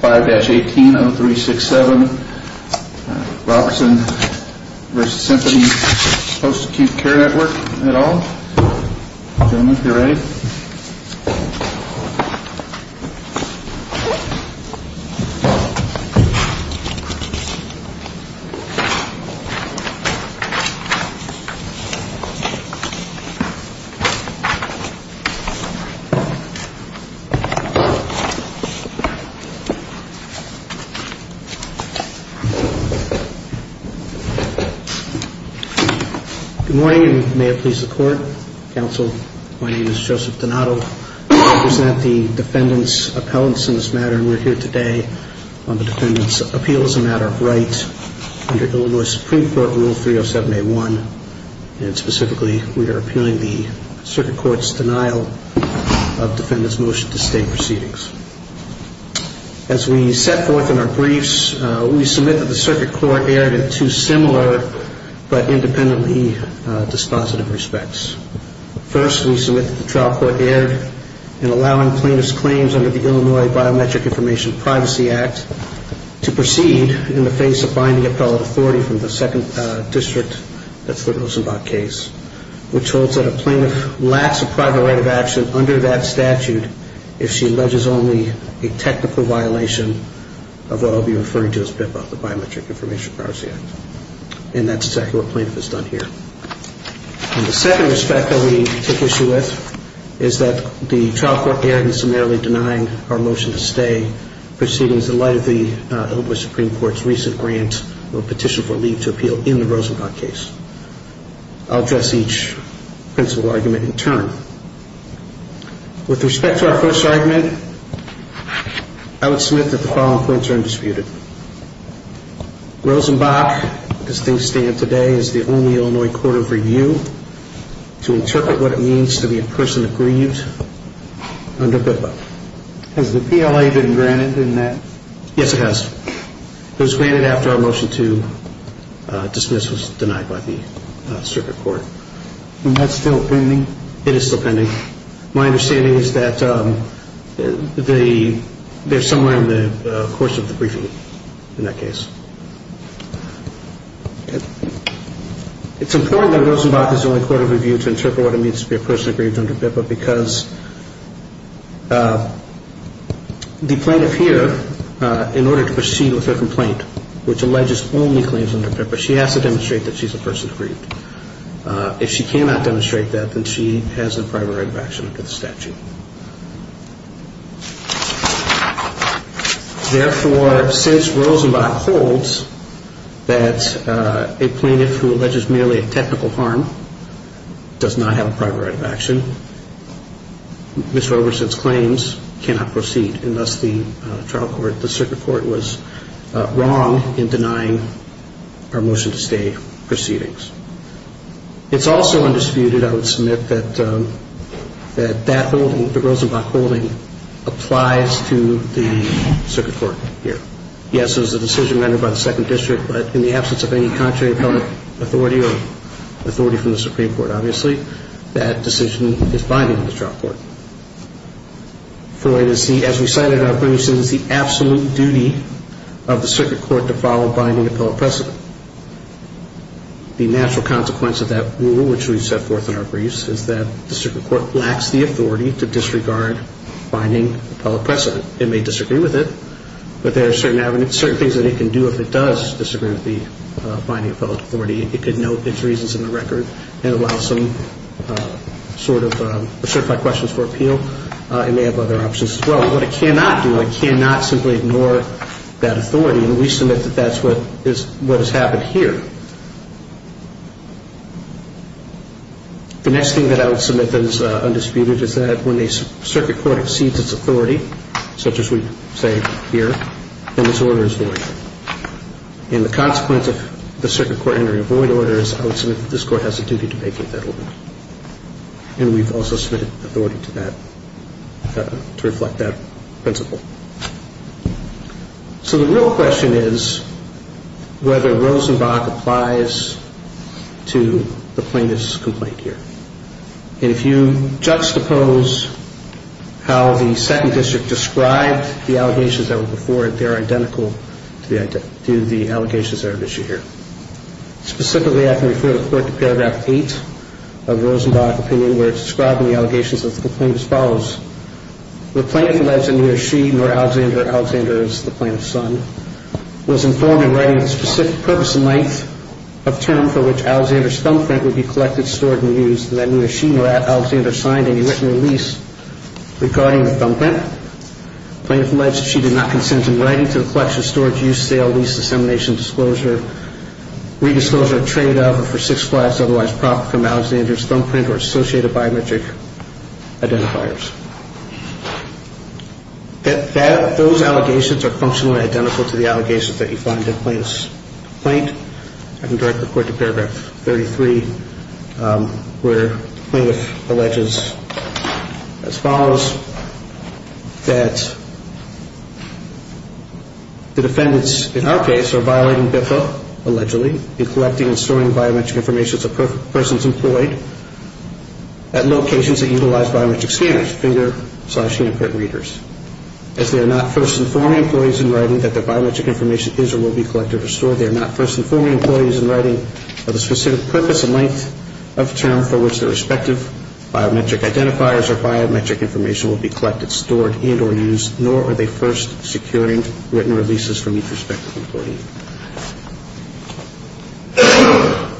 5-18-0367 Robertson v. Symphony Post Acute Care Network et al. Gentlemen, if you're ready. Good morning, and may it please the court, counsel. My name is Joseph Donato. I represent the defendants' appellants in this matter, and we're here today on the defendants' appeal as a matter of right under Illinois Supreme Court Rule 307A1, and specifically we are appealing the circuit court's denial of defendant's motion to stay proceedings. As we set forth in our briefs, we submit that the circuit court erred in two similar but independently dispositive respects. First, we submit that the trial court erred in allowing plaintiff's claims under the Illinois Biometric Information Privacy Act to proceed in the face of binding appellate authority from the second district, that's the Rosenbach case, which holds that a plaintiff lacks a private right of action under that statute if she alleges only a technical violation of what I'll be referring to as BIPOC, the Biometric Information Privacy Act. And that's exactly what plaintiff has done here. And the second respect that we take issue with is that the trial court erred in summarily denying our motion to stay proceedings in light of the Illinois Supreme Court's recent grant or petition for leave to appeal in the Rosenbach case. I'll address each principle argument in turn. With respect to our first argument, I would submit that the following points are undisputed. Rosenbach, as things stand today, is the only Illinois court of review to interpret what it means to be a person aggrieved under BIPOC. Has the PLA been granted in that? Yes, it has. It was granted after our motion to dismiss was denied by the circuit court. And that's still pending? It is still pending. My understanding is that they're somewhere in the course of the briefing in that case. It's important that Rosenbach is the only court of review to interpret what it means to be a person aggrieved under BIPOC because the plaintiff here, in order to proceed with her complaint, which alleges only claims under BIPOC, she has to demonstrate that she's a person aggrieved. If she cannot demonstrate that, then she has a prior right of action under the statute. Therefore, since Rosenbach holds that a plaintiff who alleges merely a technical harm does not have a prior right of action, Ms. Roberson's claims cannot proceed, and thus the circuit court was wrong in denying our motion to stay proceedings. It's also undisputed, I would submit, that that holding, the Rosenbach holding, applies to the circuit court here. Yes, it was a decision rendered by the Second District, but in the absence of any contrary appellate authority or authority from the Supreme Court, obviously, that decision is binding on the trial court. As we cited in our briefs, it is the absolute duty of the circuit court to follow binding appellate precedent. The natural consequence of that rule, which we've set forth in our briefs, is that the circuit court lacks the authority to disregard binding appellate precedent. It may disagree with it, but there are certain things that it can do if it does disagree with the binding appellate authority. It could note its reasons in the record and allow some sort of, certify questions for appeal. It may have other options as well. What it cannot do, it cannot simply ignore that authority, and we submit that that's what has happened here. The next thing that I would submit that is undisputed is that when a circuit court exceeds its authority, such as we say here, then this order is void. And the consequence of the circuit court entering a void order is I would submit that this court has a duty to vacate that order. And we've also submitted authority to that, to reflect that principle. So the real question is whether Rosenbach applies to the plaintiff's complaint here. And if you juxtapose how the Second District described the allegations that were before it, they're identical to the allegations that are at issue here. Specifically, I can refer to Paragraph 8 of Rosenbach's opinion, where it's described in the allegations that the complainant follows. The plaintiff lives in New York City, and where Alexander, Alexander is the plaintiff's son, was informed in writing of the specific purpose and length of term for which Alexander's thumbprint would be collected, stored, and used, and that neither she nor Alexander signed any written release regarding the thumbprint. The plaintiff alleged she did not consent in writing to the collection, storage, use, sale, lease, dissemination, disclosure, redisclosure, trade of, or for six flats otherwise proper from Alexander's thumbprint or associated biometric identifiers. Those allegations are functionally identical to the allegations that you find in the plaintiff's complaint. I can direct the court to Paragraph 33, where the plaintiff alleges as follows, that the defendants in our case are violating BIFA, allegedly, in collecting and storing biometric information of persons employed at locations that utilize biometric scanners, finger, slash, fingerprint readers. As they are not first informing employees in writing that their biometric information is or will be collected or stored, they are not first informing employees in writing of the specific purpose and length of term for which their respective biometric identifiers or biometric information will be collected, stored, and or used, nor are they first securing written releases from each respective employee.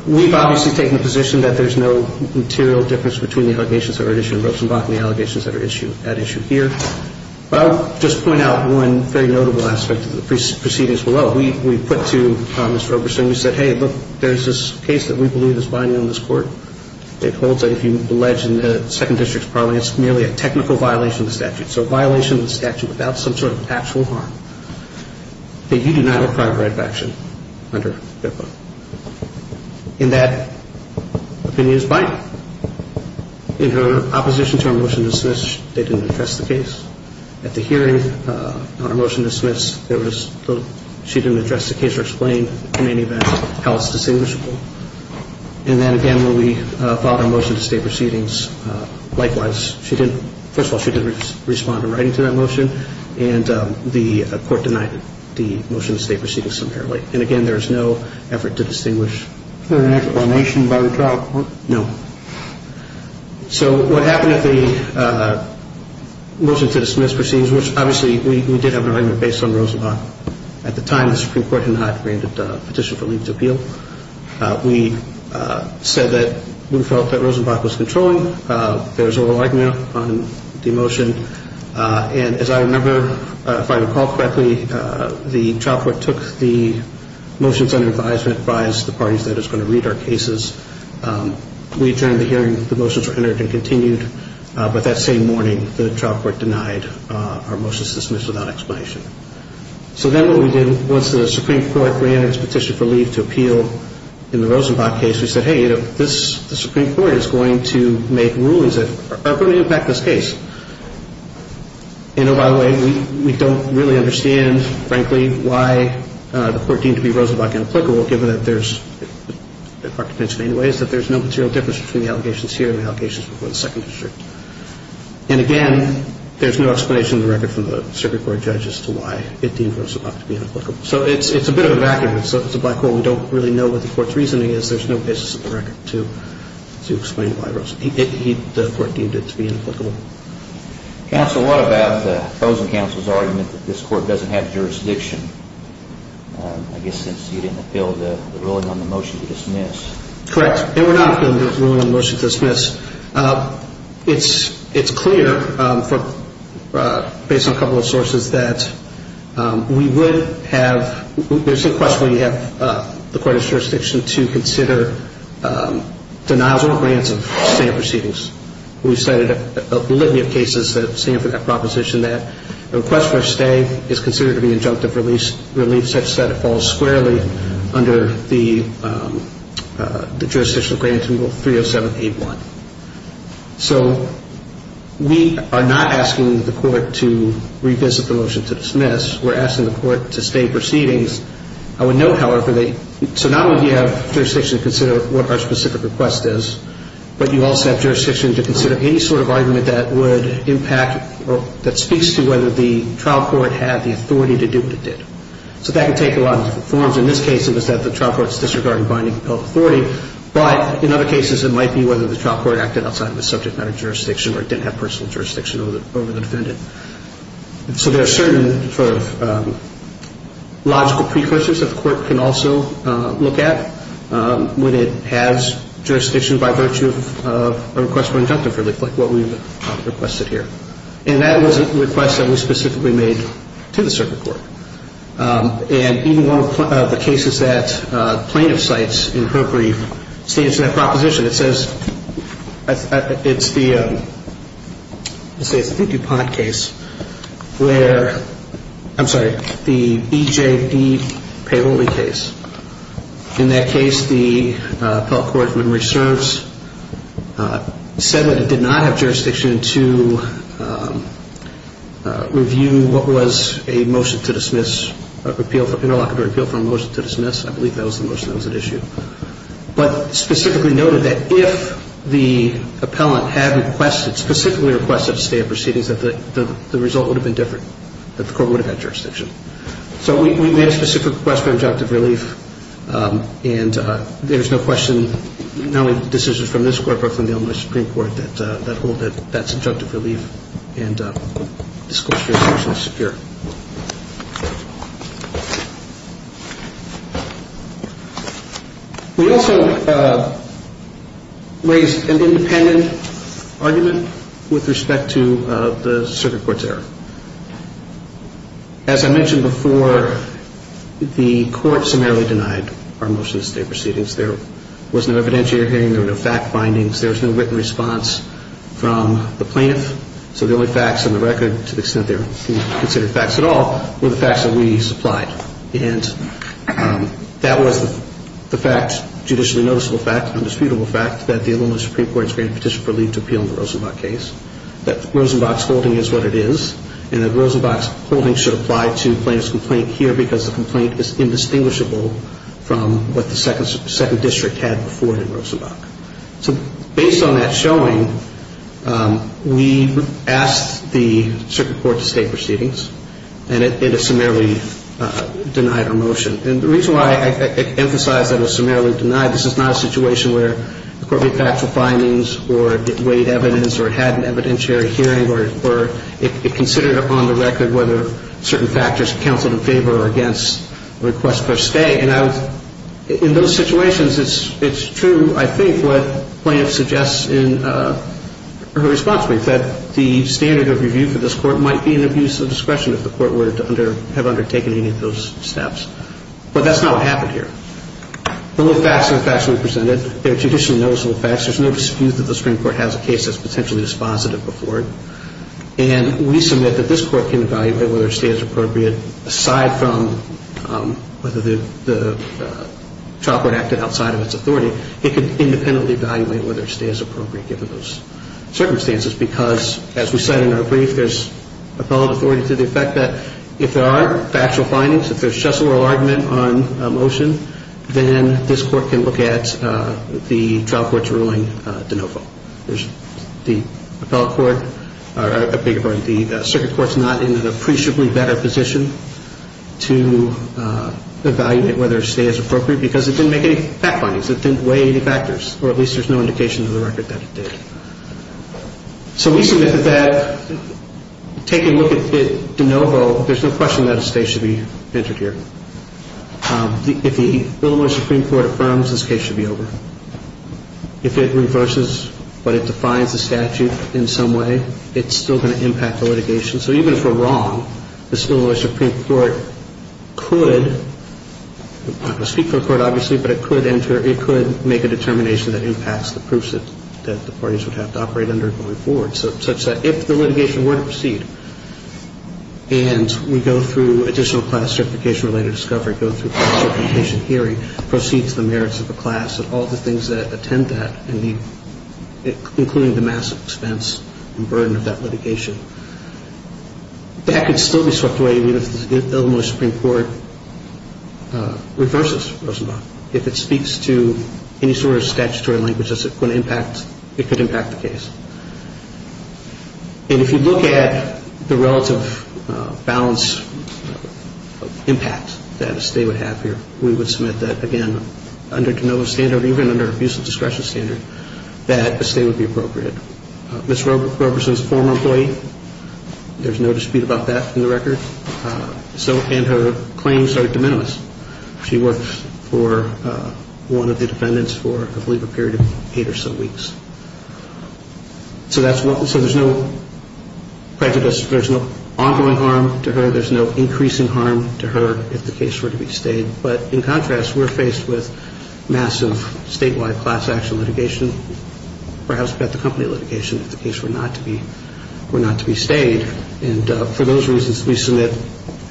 We've obviously taken the position that there's no material difference between the allegations that are at issue in Rosenbach and the allegations that are at issue here, but I'll just point out one very notable aspect of the proceedings below. We put to Mr. Oberson, we said, hey, look, there's this case that we believe is binding on this court. It holds that if you allege in the Second District's parliament, it's merely a technical violation of the statute, so a violation of the statute without some sort of actual harm, that you do not have a private right of action under BIFA. In that opinion is Biden. In her opposition to our motion to dismiss, they didn't address the case. At the hearing, on our motion to dismiss, she didn't address the case or explain in any event how it's distinguishable. And then again, when we filed our motion to stay proceedings, likewise, first of all, she didn't respond in writing to that motion, and the court denied the motion to stay proceedings summarily. And again, there is no effort to distinguish. Is there an explanation by the trial court? No. So what happened at the motion to dismiss proceedings, which obviously we did have an arraignment based on Rosenbach. At the time, the Supreme Court had not granted a petition for leave to appeal. We said that we felt that Rosenbach was controlling. There was over-argument on the motion. And as I remember, if I recall correctly, the trial court took the motions under advisement, advised the parties that it was going to read our cases. We adjourned the hearing. The motions were entered and continued. But that same morning, the trial court denied our motion to dismiss without explanation. So then what we did, once the Supreme Court granted its petition for leave to appeal in the Rosenbach case, we said, hey, the Supreme Court is going to make rulings that are going to impact this case. And, oh, by the way, we don't really understand, frankly, why the court deemed to be Rosenbach inapplicable, given that there's no material difference between the allegations here and the allegations before the second district. And again, there's no explanation in the record from the Supreme Court judge as to why it deemed Rosenbach to be inapplicable. So it's a bit of a vacuum. It's a black hole. We don't really know what the court's reasoning is. There's no basis in the record to explain why the court deemed it to be inapplicable. Counsel, what about the opposing counsel's argument that this court doesn't have jurisdiction, I guess, since you didn't appeal the ruling on the motion to dismiss? Correct. They were not appealing the ruling on the motion to dismiss. It's clear, based on a couple of sources, that we would have – there's some question whether you have the court's jurisdiction to consider denials or grants of stand proceedings. We've cited a litany of cases that stand for that proposition, that a request for a stay is considered to be injunctive relief, such that it falls squarely under the jurisdictional granting rule 30781. So we are not asking the court to revisit the motion to dismiss. We're asking the court to stay proceedings. I would note, however, that so not only do you have jurisdiction to consider what our specific request is, but you also have jurisdiction to consider any sort of argument that would impact or that speaks to whether the trial court had the authority to do what it did. So that can take a lot of different forms. In this case, it was that the trial court disregarded binding of authority. But in other cases, it might be whether the trial court acted outside of the subject matter jurisdiction or didn't have personal jurisdiction over the defendant. So there are certain sort of logical precursors that the court can also look at. And that was a request that we specifically made to the circuit court. And even one of the cases that plaintiff cites in her brief states that proposition. It says it's the DuPont case where, I'm sorry, the EJD payroll case. In this case, the appellate court in which it serves said that it did not have jurisdiction to review what was a motion to dismiss, an interlocutor appeal for a motion to dismiss. I believe that was the motion that was at issue. But specifically noted that if the appellant had specifically requested a stay of proceedings, that the result would have been different, that the court would have had jurisdiction. So we made a specific request for objective relief. And there's no question, not only decisions from this court, but from the Illinois Supreme Court, that hold that that's objective relief. And this court's view is partially secure. We also raised an independent argument with respect to the circuit court's error. As I mentioned before, the court summarily denied our motion to stay proceedings. There was no evidentiary hearing. There were no fact findings. There was no written response from the plaintiff. So the only facts on the record, to the extent they were considered facts at all, were the facts that we supplied. And that was the fact, judicially noticeable fact, undisputable fact, that the Illinois Supreme Court's granted petition for relief to appeal the Rosenbach case, that Rosenbach's holding is what it is, and that Rosenbach's holding should apply to the plaintiff's complaint here because the complaint is indistinguishable from what the Second District had before it in Rosenbach. So based on that showing, we asked the circuit court to stay proceedings, and it summarily denied our motion. And the reason why I emphasize that it was summarily denied, this is not a situation where the court made factual findings or weighed evidence or had an evidentiary hearing or it considered on the record whether certain factors counseled in favor or against a request for a stay. And in those situations, it's true, I think, what the plaintiff suggests in her response brief, that the standard of review for this court might be an abuse of discretion if the court were to have undertaken any of those steps. But that's not what happened here. The little facts are the facts we presented. They're judicially noticeable facts. There's no dispute that the Supreme Court has a case that's potentially dispositive before it. And we submit that this court can evaluate whether a stay is appropriate. Aside from whether the trial court acted outside of its authority, it can independently evaluate whether a stay is appropriate given those circumstances because, as we said in our brief, there's appellate authority to the effect that if there are factual findings, if there's just an oral argument on a motion, then this court can look at the trial court's ruling de novo. The circuit court's not in an appreciably better position to evaluate whether a stay is appropriate because it didn't make any fact findings. It didn't weigh any factors, or at least there's no indication to the record that it did. So we submit that taking a look at de novo, there's no question that a stay should be entered here. If the Illinois Supreme Court affirms, this case should be over. If it reverses but it defines the statute in some way, it's still going to impact the litigation. So even if we're wrong, this Illinois Supreme Court could, I'm not going to speak for the court obviously, but it could make a determination that impacts the proofs that the parties would have to operate under going forward, such that if the litigation were to proceed and we go through additional classification-related discovery, go through classification hearing, proceed to the merits of the class and all the things that attend that, including the massive expense and burden of that litigation, that could still be swept away. I mean, if the Illinois Supreme Court reverses Rosenbach, if it speaks to any sort of statutory language that's going to impact, it could impact the case. And if you look at the relative balance of impact that a stay would have here, we would submit that, again, under de novo standard or even under abuse of discretion standard, that a stay would be appropriate. Ms. Roberson is a former employee. There's no dispute about that in the record. And her claims are de minimis. She worked for one of the defendants for, I believe, a period of eight or so weeks. So there's no prejudice. There's no ongoing harm to her. There's no increasing harm to her if the case were to be stayed. But in contrast, we're faced with massive statewide class action litigation, perhaps about the company litigation if the case were not to be stayed. And for those reasons, we submit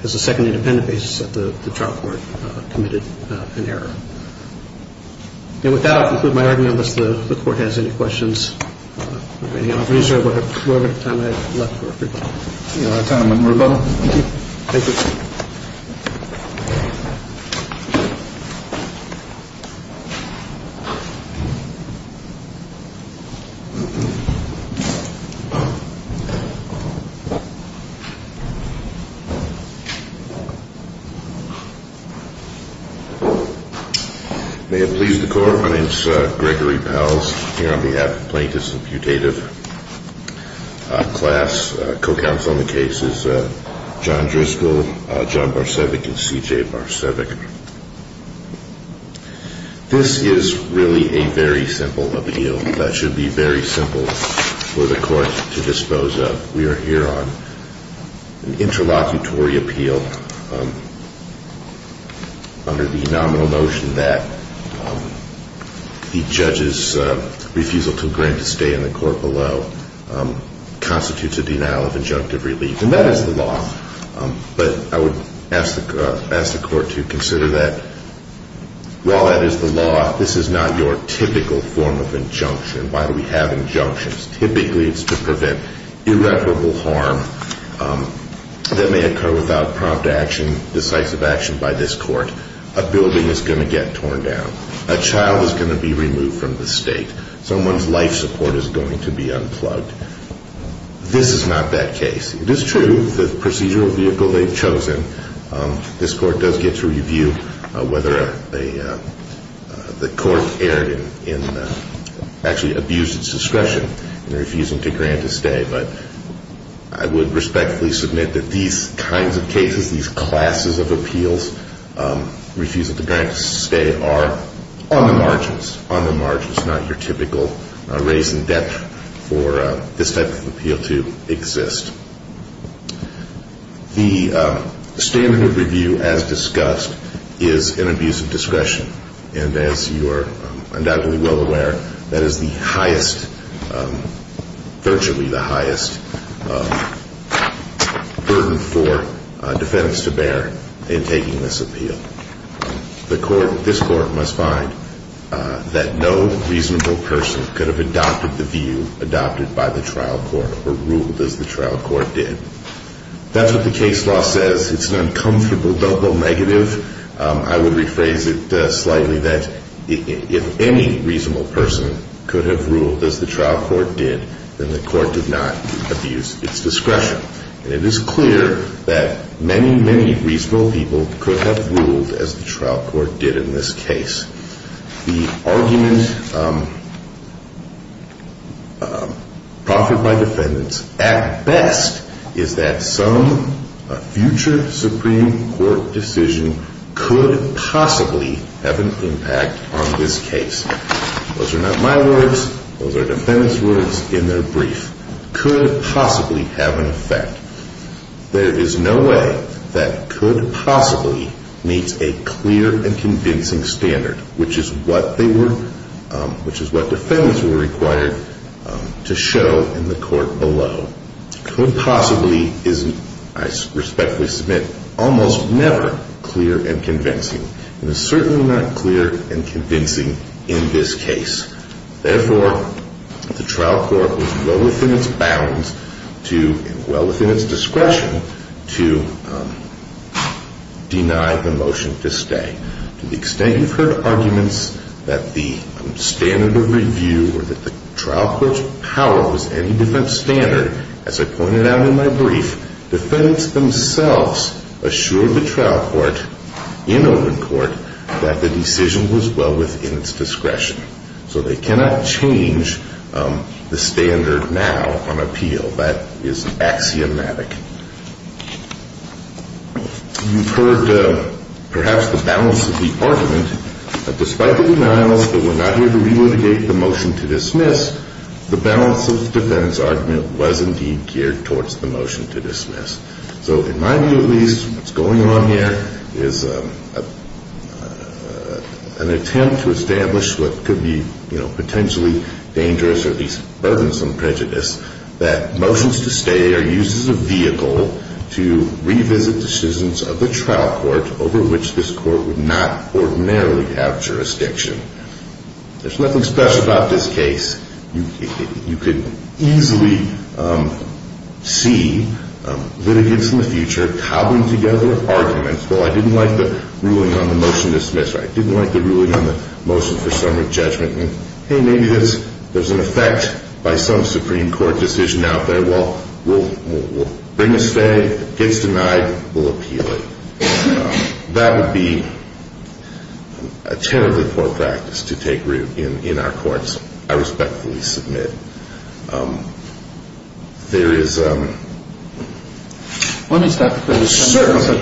as a second independent basis that the trial court committed an error. And with that, I'll conclude my argument unless the Court has any questions. Are there any other questions or do I have time for a rebuttal? You have time for a rebuttal. Thank you. Thank you. Thank you. May it please the Court, my name is Gregory Powles. I'm here on behalf of plaintiffs and putative class. Co-counsel in the case is John Driscoll, John Barsevic, and C.J. Barsevic. This is really a very simple appeal. That should be very simple for the Court to dispose of. We are here on an interlocutory appeal under the nominal notion that the judge's refusal to agree to stay in the court below constitutes a denial of injunctive relief. And that is the law. But I would ask the Court to consider that while that is the law, this is not your typical form of injunction. Why do we have injunctions? Typically, it's to prevent irreparable harm that may occur without prompt action, decisive action by this Court. A building is going to get torn down. A child is going to be removed from the state. Someone's life support is going to be unplugged. This is not that case. It is true, the procedural vehicle they've chosen, this Court does get to review whether the Court actually abused its discretion. They're refusing to grant a stay. But I would respectfully submit that these kinds of cases, these classes of appeals, refusing to grant a stay, are on the margins. On the margins, not your typical raise in debt for this type of appeal to exist. The standard of review as discussed is an abuse of discretion. And as you are undoubtedly well aware, that is the highest, virtually the highest, burden for defendants to bear in taking this appeal. This Court must find that no reasonable person could have adopted the view adopted by the trial court or ruled as the trial court did. That's what the case law says. It's an uncomfortable double negative. I would rephrase it slightly that if any reasonable person could have ruled as the trial court did, then the court did not abuse its discretion. And it is clear that many, many reasonable people could have ruled as the trial court did in this case. The argument proffered by defendants at best is that some future Supreme Court decision could possibly have an impact on this case. Those are not my words. Those are defendants' words in their brief. Could possibly have an effect. There is no way that could possibly meets a clear and convincing standard, which is what defendants were required to show in the court below. Could possibly is, I respectfully submit, almost never clear and convincing. It is certainly not clear and convincing in this case. Therefore, the trial court was well within its bounds to, well within its discretion, to deny the motion to stay. To the extent you've heard arguments that the standard of review or that the trial court's power was any defense standard, as I pointed out in my brief, defendants themselves assured the trial court in open court that the decision was well within its discretion. So they cannot change the standard now on appeal. That is axiomatic. You've heard perhaps the balance of the argument that despite the denials that we're not here to relitigate the motion to dismiss, the balance of the defendant's argument was indeed geared towards the motion to dismiss. So in my view at least, what's going on here is an attempt to establish what could be potentially dangerous or at least burdensome prejudice that motions to stay are used as a vehicle to revisit decisions of the trial court over which this court would not ordinarily have jurisdiction. There's nothing special about this case. You could easily see litigants in the future cobbling together arguments. Well, I didn't like the ruling on the motion to dismiss. I didn't like the ruling on the motion for summary judgment. And hey, maybe there's an effect by some Supreme Court decision out there. Well, we'll bring a stay. It gets denied. We'll appeal it. That would be a terribly poor practice to take root in our courts. I respectfully submit. There is a... Let me stop you for a second. Certainly.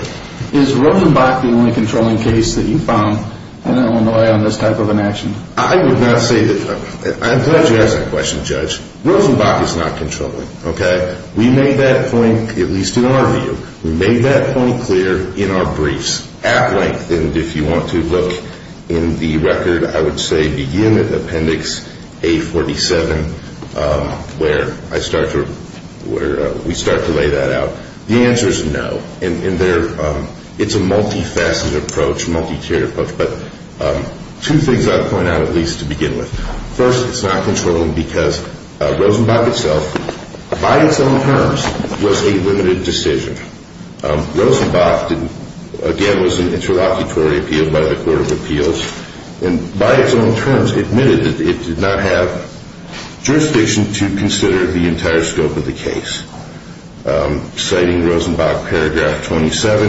Is Rosenbach the only controlling case that you found in Illinois on this type of an action? I would not say that. I'm glad you asked that question, Judge. Rosenbach is not controlling, okay? We made that point, at least in our view. We made that point clear in our briefs at length. And if you want to look in the record, I would say begin at Appendix A47, where we start to lay that out. The answer is no. And it's a multifaceted approach, multi-tiered approach. But two things I would point out at least to begin with. First, it's not controlling because Rosenbach itself, by its own terms, was a limited decision. Rosenbach, again, was an interlocutory appeal by the Court of Appeals, and by its own terms admitted that it did not have jurisdiction to consider the entire scope of the case. Citing Rosenbach, Paragraph 27,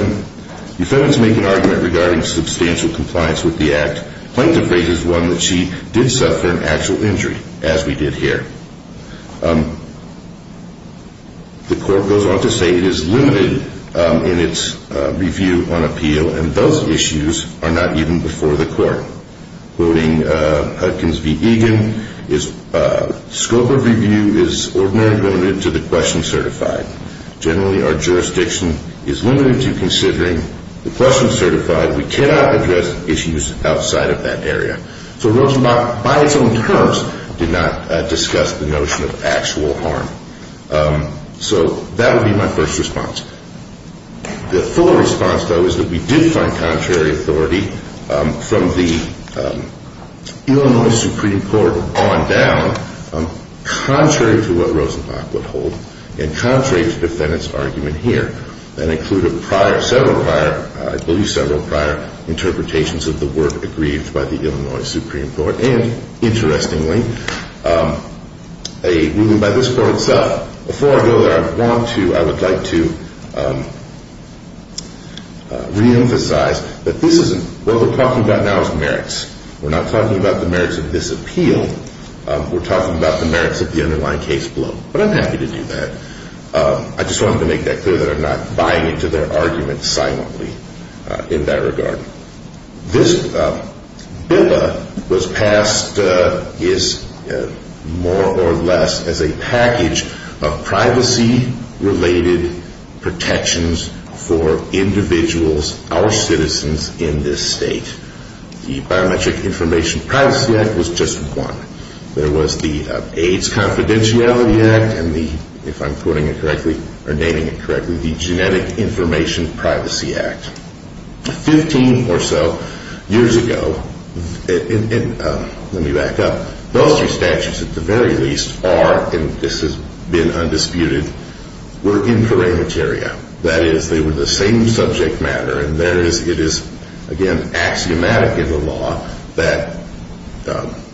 defendants make an argument regarding substantial compliance with the Act. Plaintiff raises one that she did suffer an actual injury, as we did here. The Court goes on to say it is limited in its review on appeal, and those issues are not even before the Court. Quoting Hudkins v. Egan, scope of review is ordinarily limited to the question certified. Generally, our jurisdiction is limited to considering the question certified. We cannot address issues outside of that area. So Rosenbach, by its own terms, did not discuss the notion of actual harm. So that would be my first response. The full response, though, is that we did find contrary authority from the Illinois Supreme Court on down, contrary to what Rosenbach would hold and contrary to defendants' argument here. That included prior, several prior, I believe several prior interpretations of the work agreed by the Illinois Supreme Court, and interestingly, a ruling by this Court itself. Before I go there, I want to, I would like to reemphasize that this isn't, what we're talking about now is merits. We're not talking about the merits of this appeal. We're talking about the merits of the underlying case below, but I'm happy to do that. I just wanted to make that clear that I'm not buying into their argument silently in that regard. This bill was passed, more or less, as a package of privacy-related protections for individuals, our citizens, in this state. The Biometric Information Privacy Act was just one. There was the AIDS Confidentiality Act and the, if I'm quoting it correctly, or naming it correctly, the Genetic Information Privacy Act. Fifteen or so years ago, and let me back up, those two statutes, at the very least, are, and this has been undisputed, were in parameteria. That is, they were the same subject matter, and it is, again, axiomatic in the law that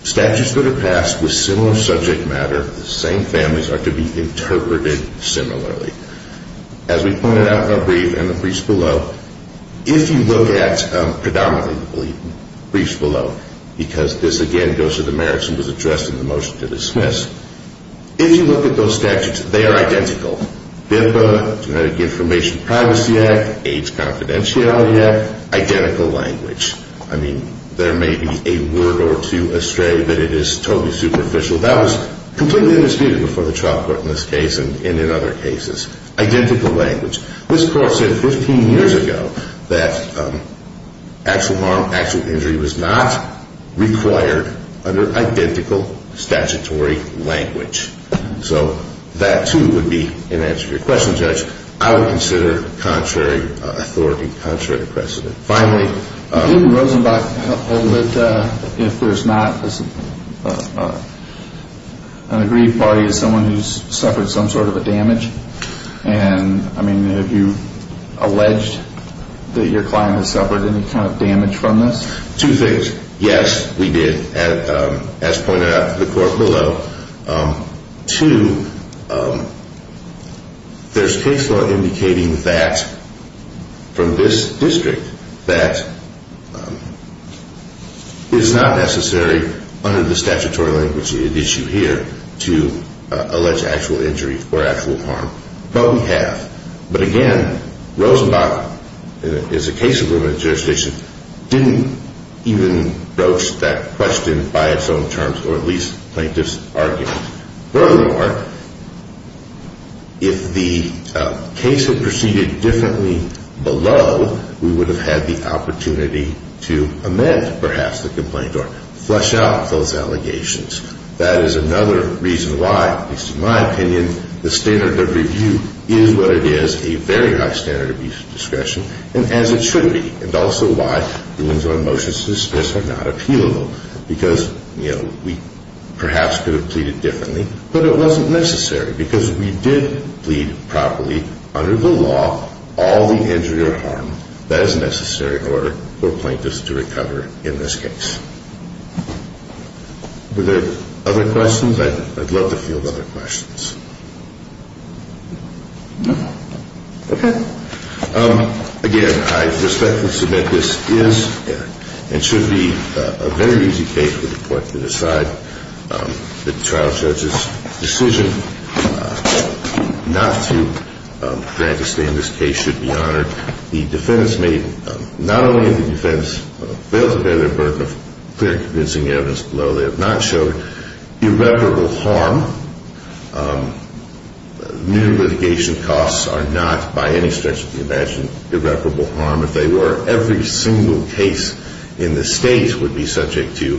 statutes that are passed with similar subject matter, the same families, are to be interpreted similarly. As we pointed out in our brief and the briefs below, if you look at, predominantly, the briefs below, because this, again, goes to the merits and was addressed in the motion to dismiss, if you look at those statutes, they are identical. BIPA, Genetic Information Privacy Act, AIDS Confidentiality Act, identical language. I mean, there may be a word or two astray, but it is totally superficial. That was completely undisputed before the trial court in this case and in other cases. Identical language. This court said 15 years ago that actual harm, actual injury was not required under identical statutory language. So that, too, would be an answer to your question, Judge. I would consider contrary authority, contrary precedent. Finally. Didn't Rosenbach hold that if there's not an aggrieved party, it's someone who's suffered some sort of a damage? And, I mean, have you alleged that your client has suffered any kind of damage from this? Two things. Yes, we did. As pointed out to the court below. Two, there's case law indicating that from this district that it is not necessary under the statutory language at issue here to allege actual injury or actual harm. But we have. But, again, Rosenbach, as a case of limited jurisdiction, didn't even broach that question by its own terms, or at least plaintiff's argument. Furthermore, if the case had proceeded differently below, we would have had the opportunity to amend, perhaps, the complaint or flesh out those allegations. That is another reason why, at least in my opinion, the standard of review is what it is, a very high standard of abuse of discretion, and as it should be. And also why the Winslow and Motius disputes are not appealable. Because, you know, we perhaps could have pleaded differently, but it wasn't necessary. Because we did plead properly under the law all the injury or harm that is necessary in order for plaintiffs to recover in this case. Were there other questions? I'd love to field other questions. No? Okay. Again, I respectfully submit this is and should be a very easy case for the court to decide. The trial judge's decision not to grant a stay in this case should be honored. The defense failed to bear the burden of clear and convincing evidence below. They have not showed irreparable harm. New litigation costs are not, by any stretch of the imagination, irreparable harm. If they were, every single case in the state would be subject to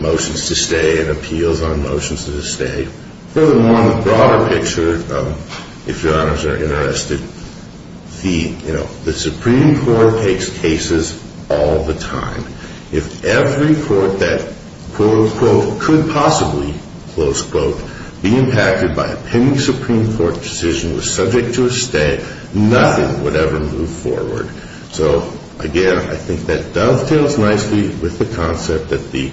motions to stay and appeals on motions to stay. Furthermore, on the broader picture, if your honors are interested, the Supreme Court takes cases all the time. If every court that, quote, unquote, could possibly, close quote, be impacted by a pending Supreme Court decision was subject to a stay, nothing would ever move forward. So, again, I think that dovetails nicely with the concept that the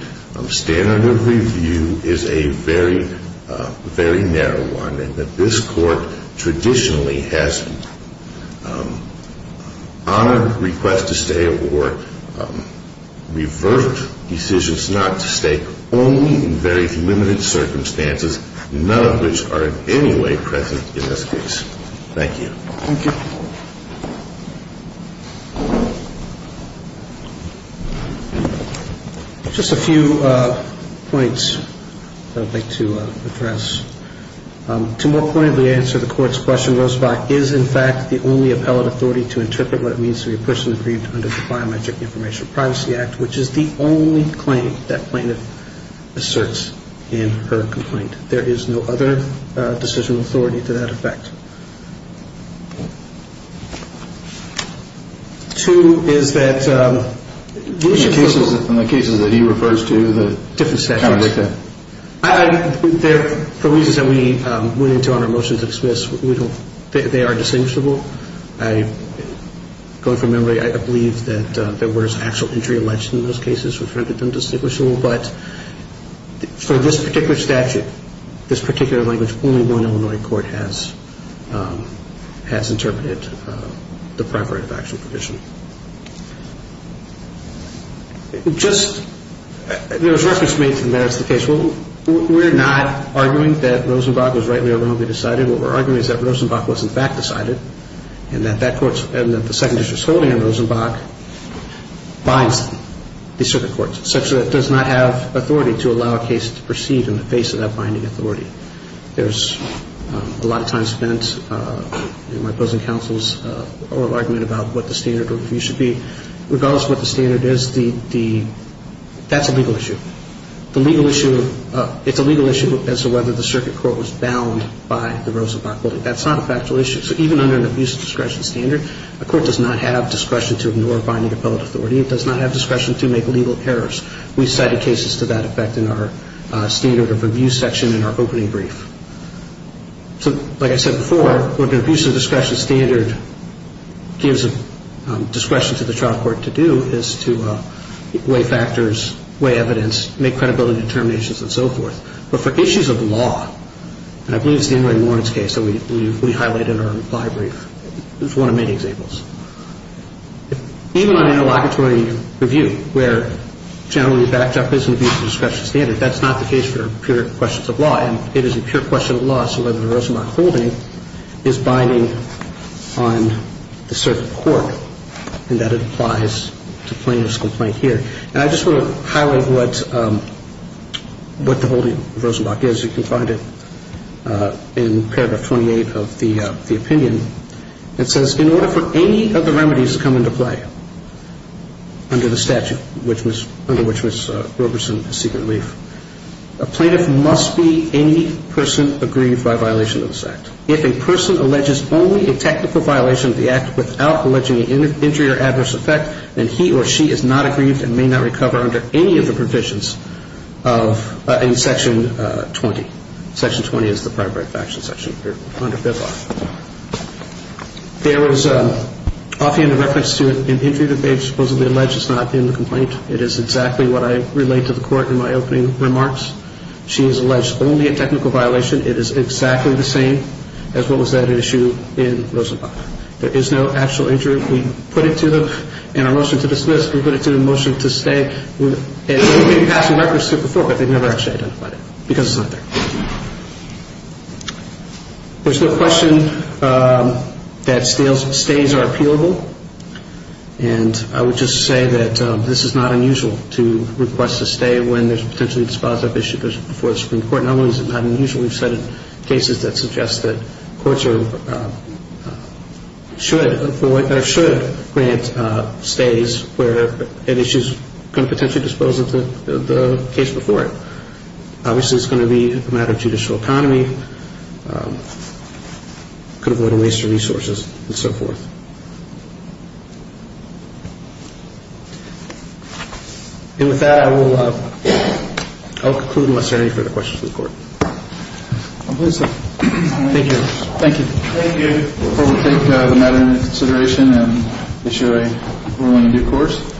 standard of review is a very, very narrow one, and that this court traditionally has honored requests to stay or reversed decisions not to stay only in very limited circumstances, none of which are in any way present in this case. Thank you. Thank you. Just a few points I'd like to address. To more pointedly answer the court's question, Rosebach is, in fact, the only appellate authority to interpret what it means to be a person aggrieved under the Biometric Information Privacy Act, which is the only claim that plaintiff asserts in her complaint. There is no other decision authority to that effect. Two is that... In the cases that he refers to, the... Different statutes. The reasons that we went into honor motions of dismissal, they are distinguishable. Going from memory, I believe that there was actual injury alleged in those cases which rendered them distinguishable, but for this particular statute, this particular language, only one Illinois court has interpreted the primary factual provision. Just... There was reference made to the merits of the case. We're not arguing that Rosenbach was rightly or wrongly decided. What we're arguing is that Rosenbach was, in fact, decided, and that the Second District's holding on Rosenbach binds the circuit courts such that it does not have authority to allow a case to proceed in the face of that binding authority. There's a lot of time spent in my opposing counsel's oral argument about what the standard should be. Regardless of what the standard is, the... That's a legal issue. The legal issue... It's a legal issue as to whether the circuit court was bound by the Rosenbach holding. That's not a factual issue. So even under an abuse of discretion standard, a court does not have discretion to ignore binding appellate authority. It does not have discretion to make legal errors. We've cited cases to that effect in our standard of abuse section in our opening brief. So, like I said before, what an abuse of discretion standard gives discretion to the trial court to do is to weigh factors, weigh evidence, make credibility determinations, and so forth. But for issues of law, and I believe it's the Henry Lawrence case that we highlighted in our reply brief. It's one of many examples. Even on interlocutory review where generally backed up is an abuse of discretion standard, that's not the case for pure questions of law. And it is a pure question of law as to whether the Rosenbach holding is binding on the circuit court and that it applies to plaintiff's complaint here. And I just want to highlight what the holding of Rosenbach is. You can find it in paragraph 28 of the opinion. It says, in order for any of the remedies to come into play under the statute under which Ms. Roberson is seeking relief, a plaintiff must be any person aggrieved by violation of this act. If a person alleges only a technical violation of the act without alleging an injury or adverse effect, then he or she is not aggrieved and may not recover under any of the provisions in section 20. Section 20 is the primary faction section here under FIFRA. There is, offhand, a reference to an injury that they've supposedly alleged. It's not in the complaint. It is exactly what I relayed to the court in my opening remarks. She has alleged only a technical violation. It is exactly the same as what was at issue in Rosenbach. There is no actual injury. We put it to the motion to dismiss. We put it to the motion to stay. We've been passing records to it before, but they've never actually identified it because it's not there. There's no question that stays are appealable. And I would just say that this is not unusual to request a stay when there's a potentially dispositive issue before the Supreme Court. Not only is it not unusual, we've cited cases that suggest that courts should grant stays where an issue is going to potentially dispose of the case before it. Obviously, it's going to be a matter of judicial economy. It could avoid a waste of resources and so forth. And with that, I will conclude unless there are any further questions for the court. Thank you. Thank you. Before we take the matter into consideration and issue a ruling in due course.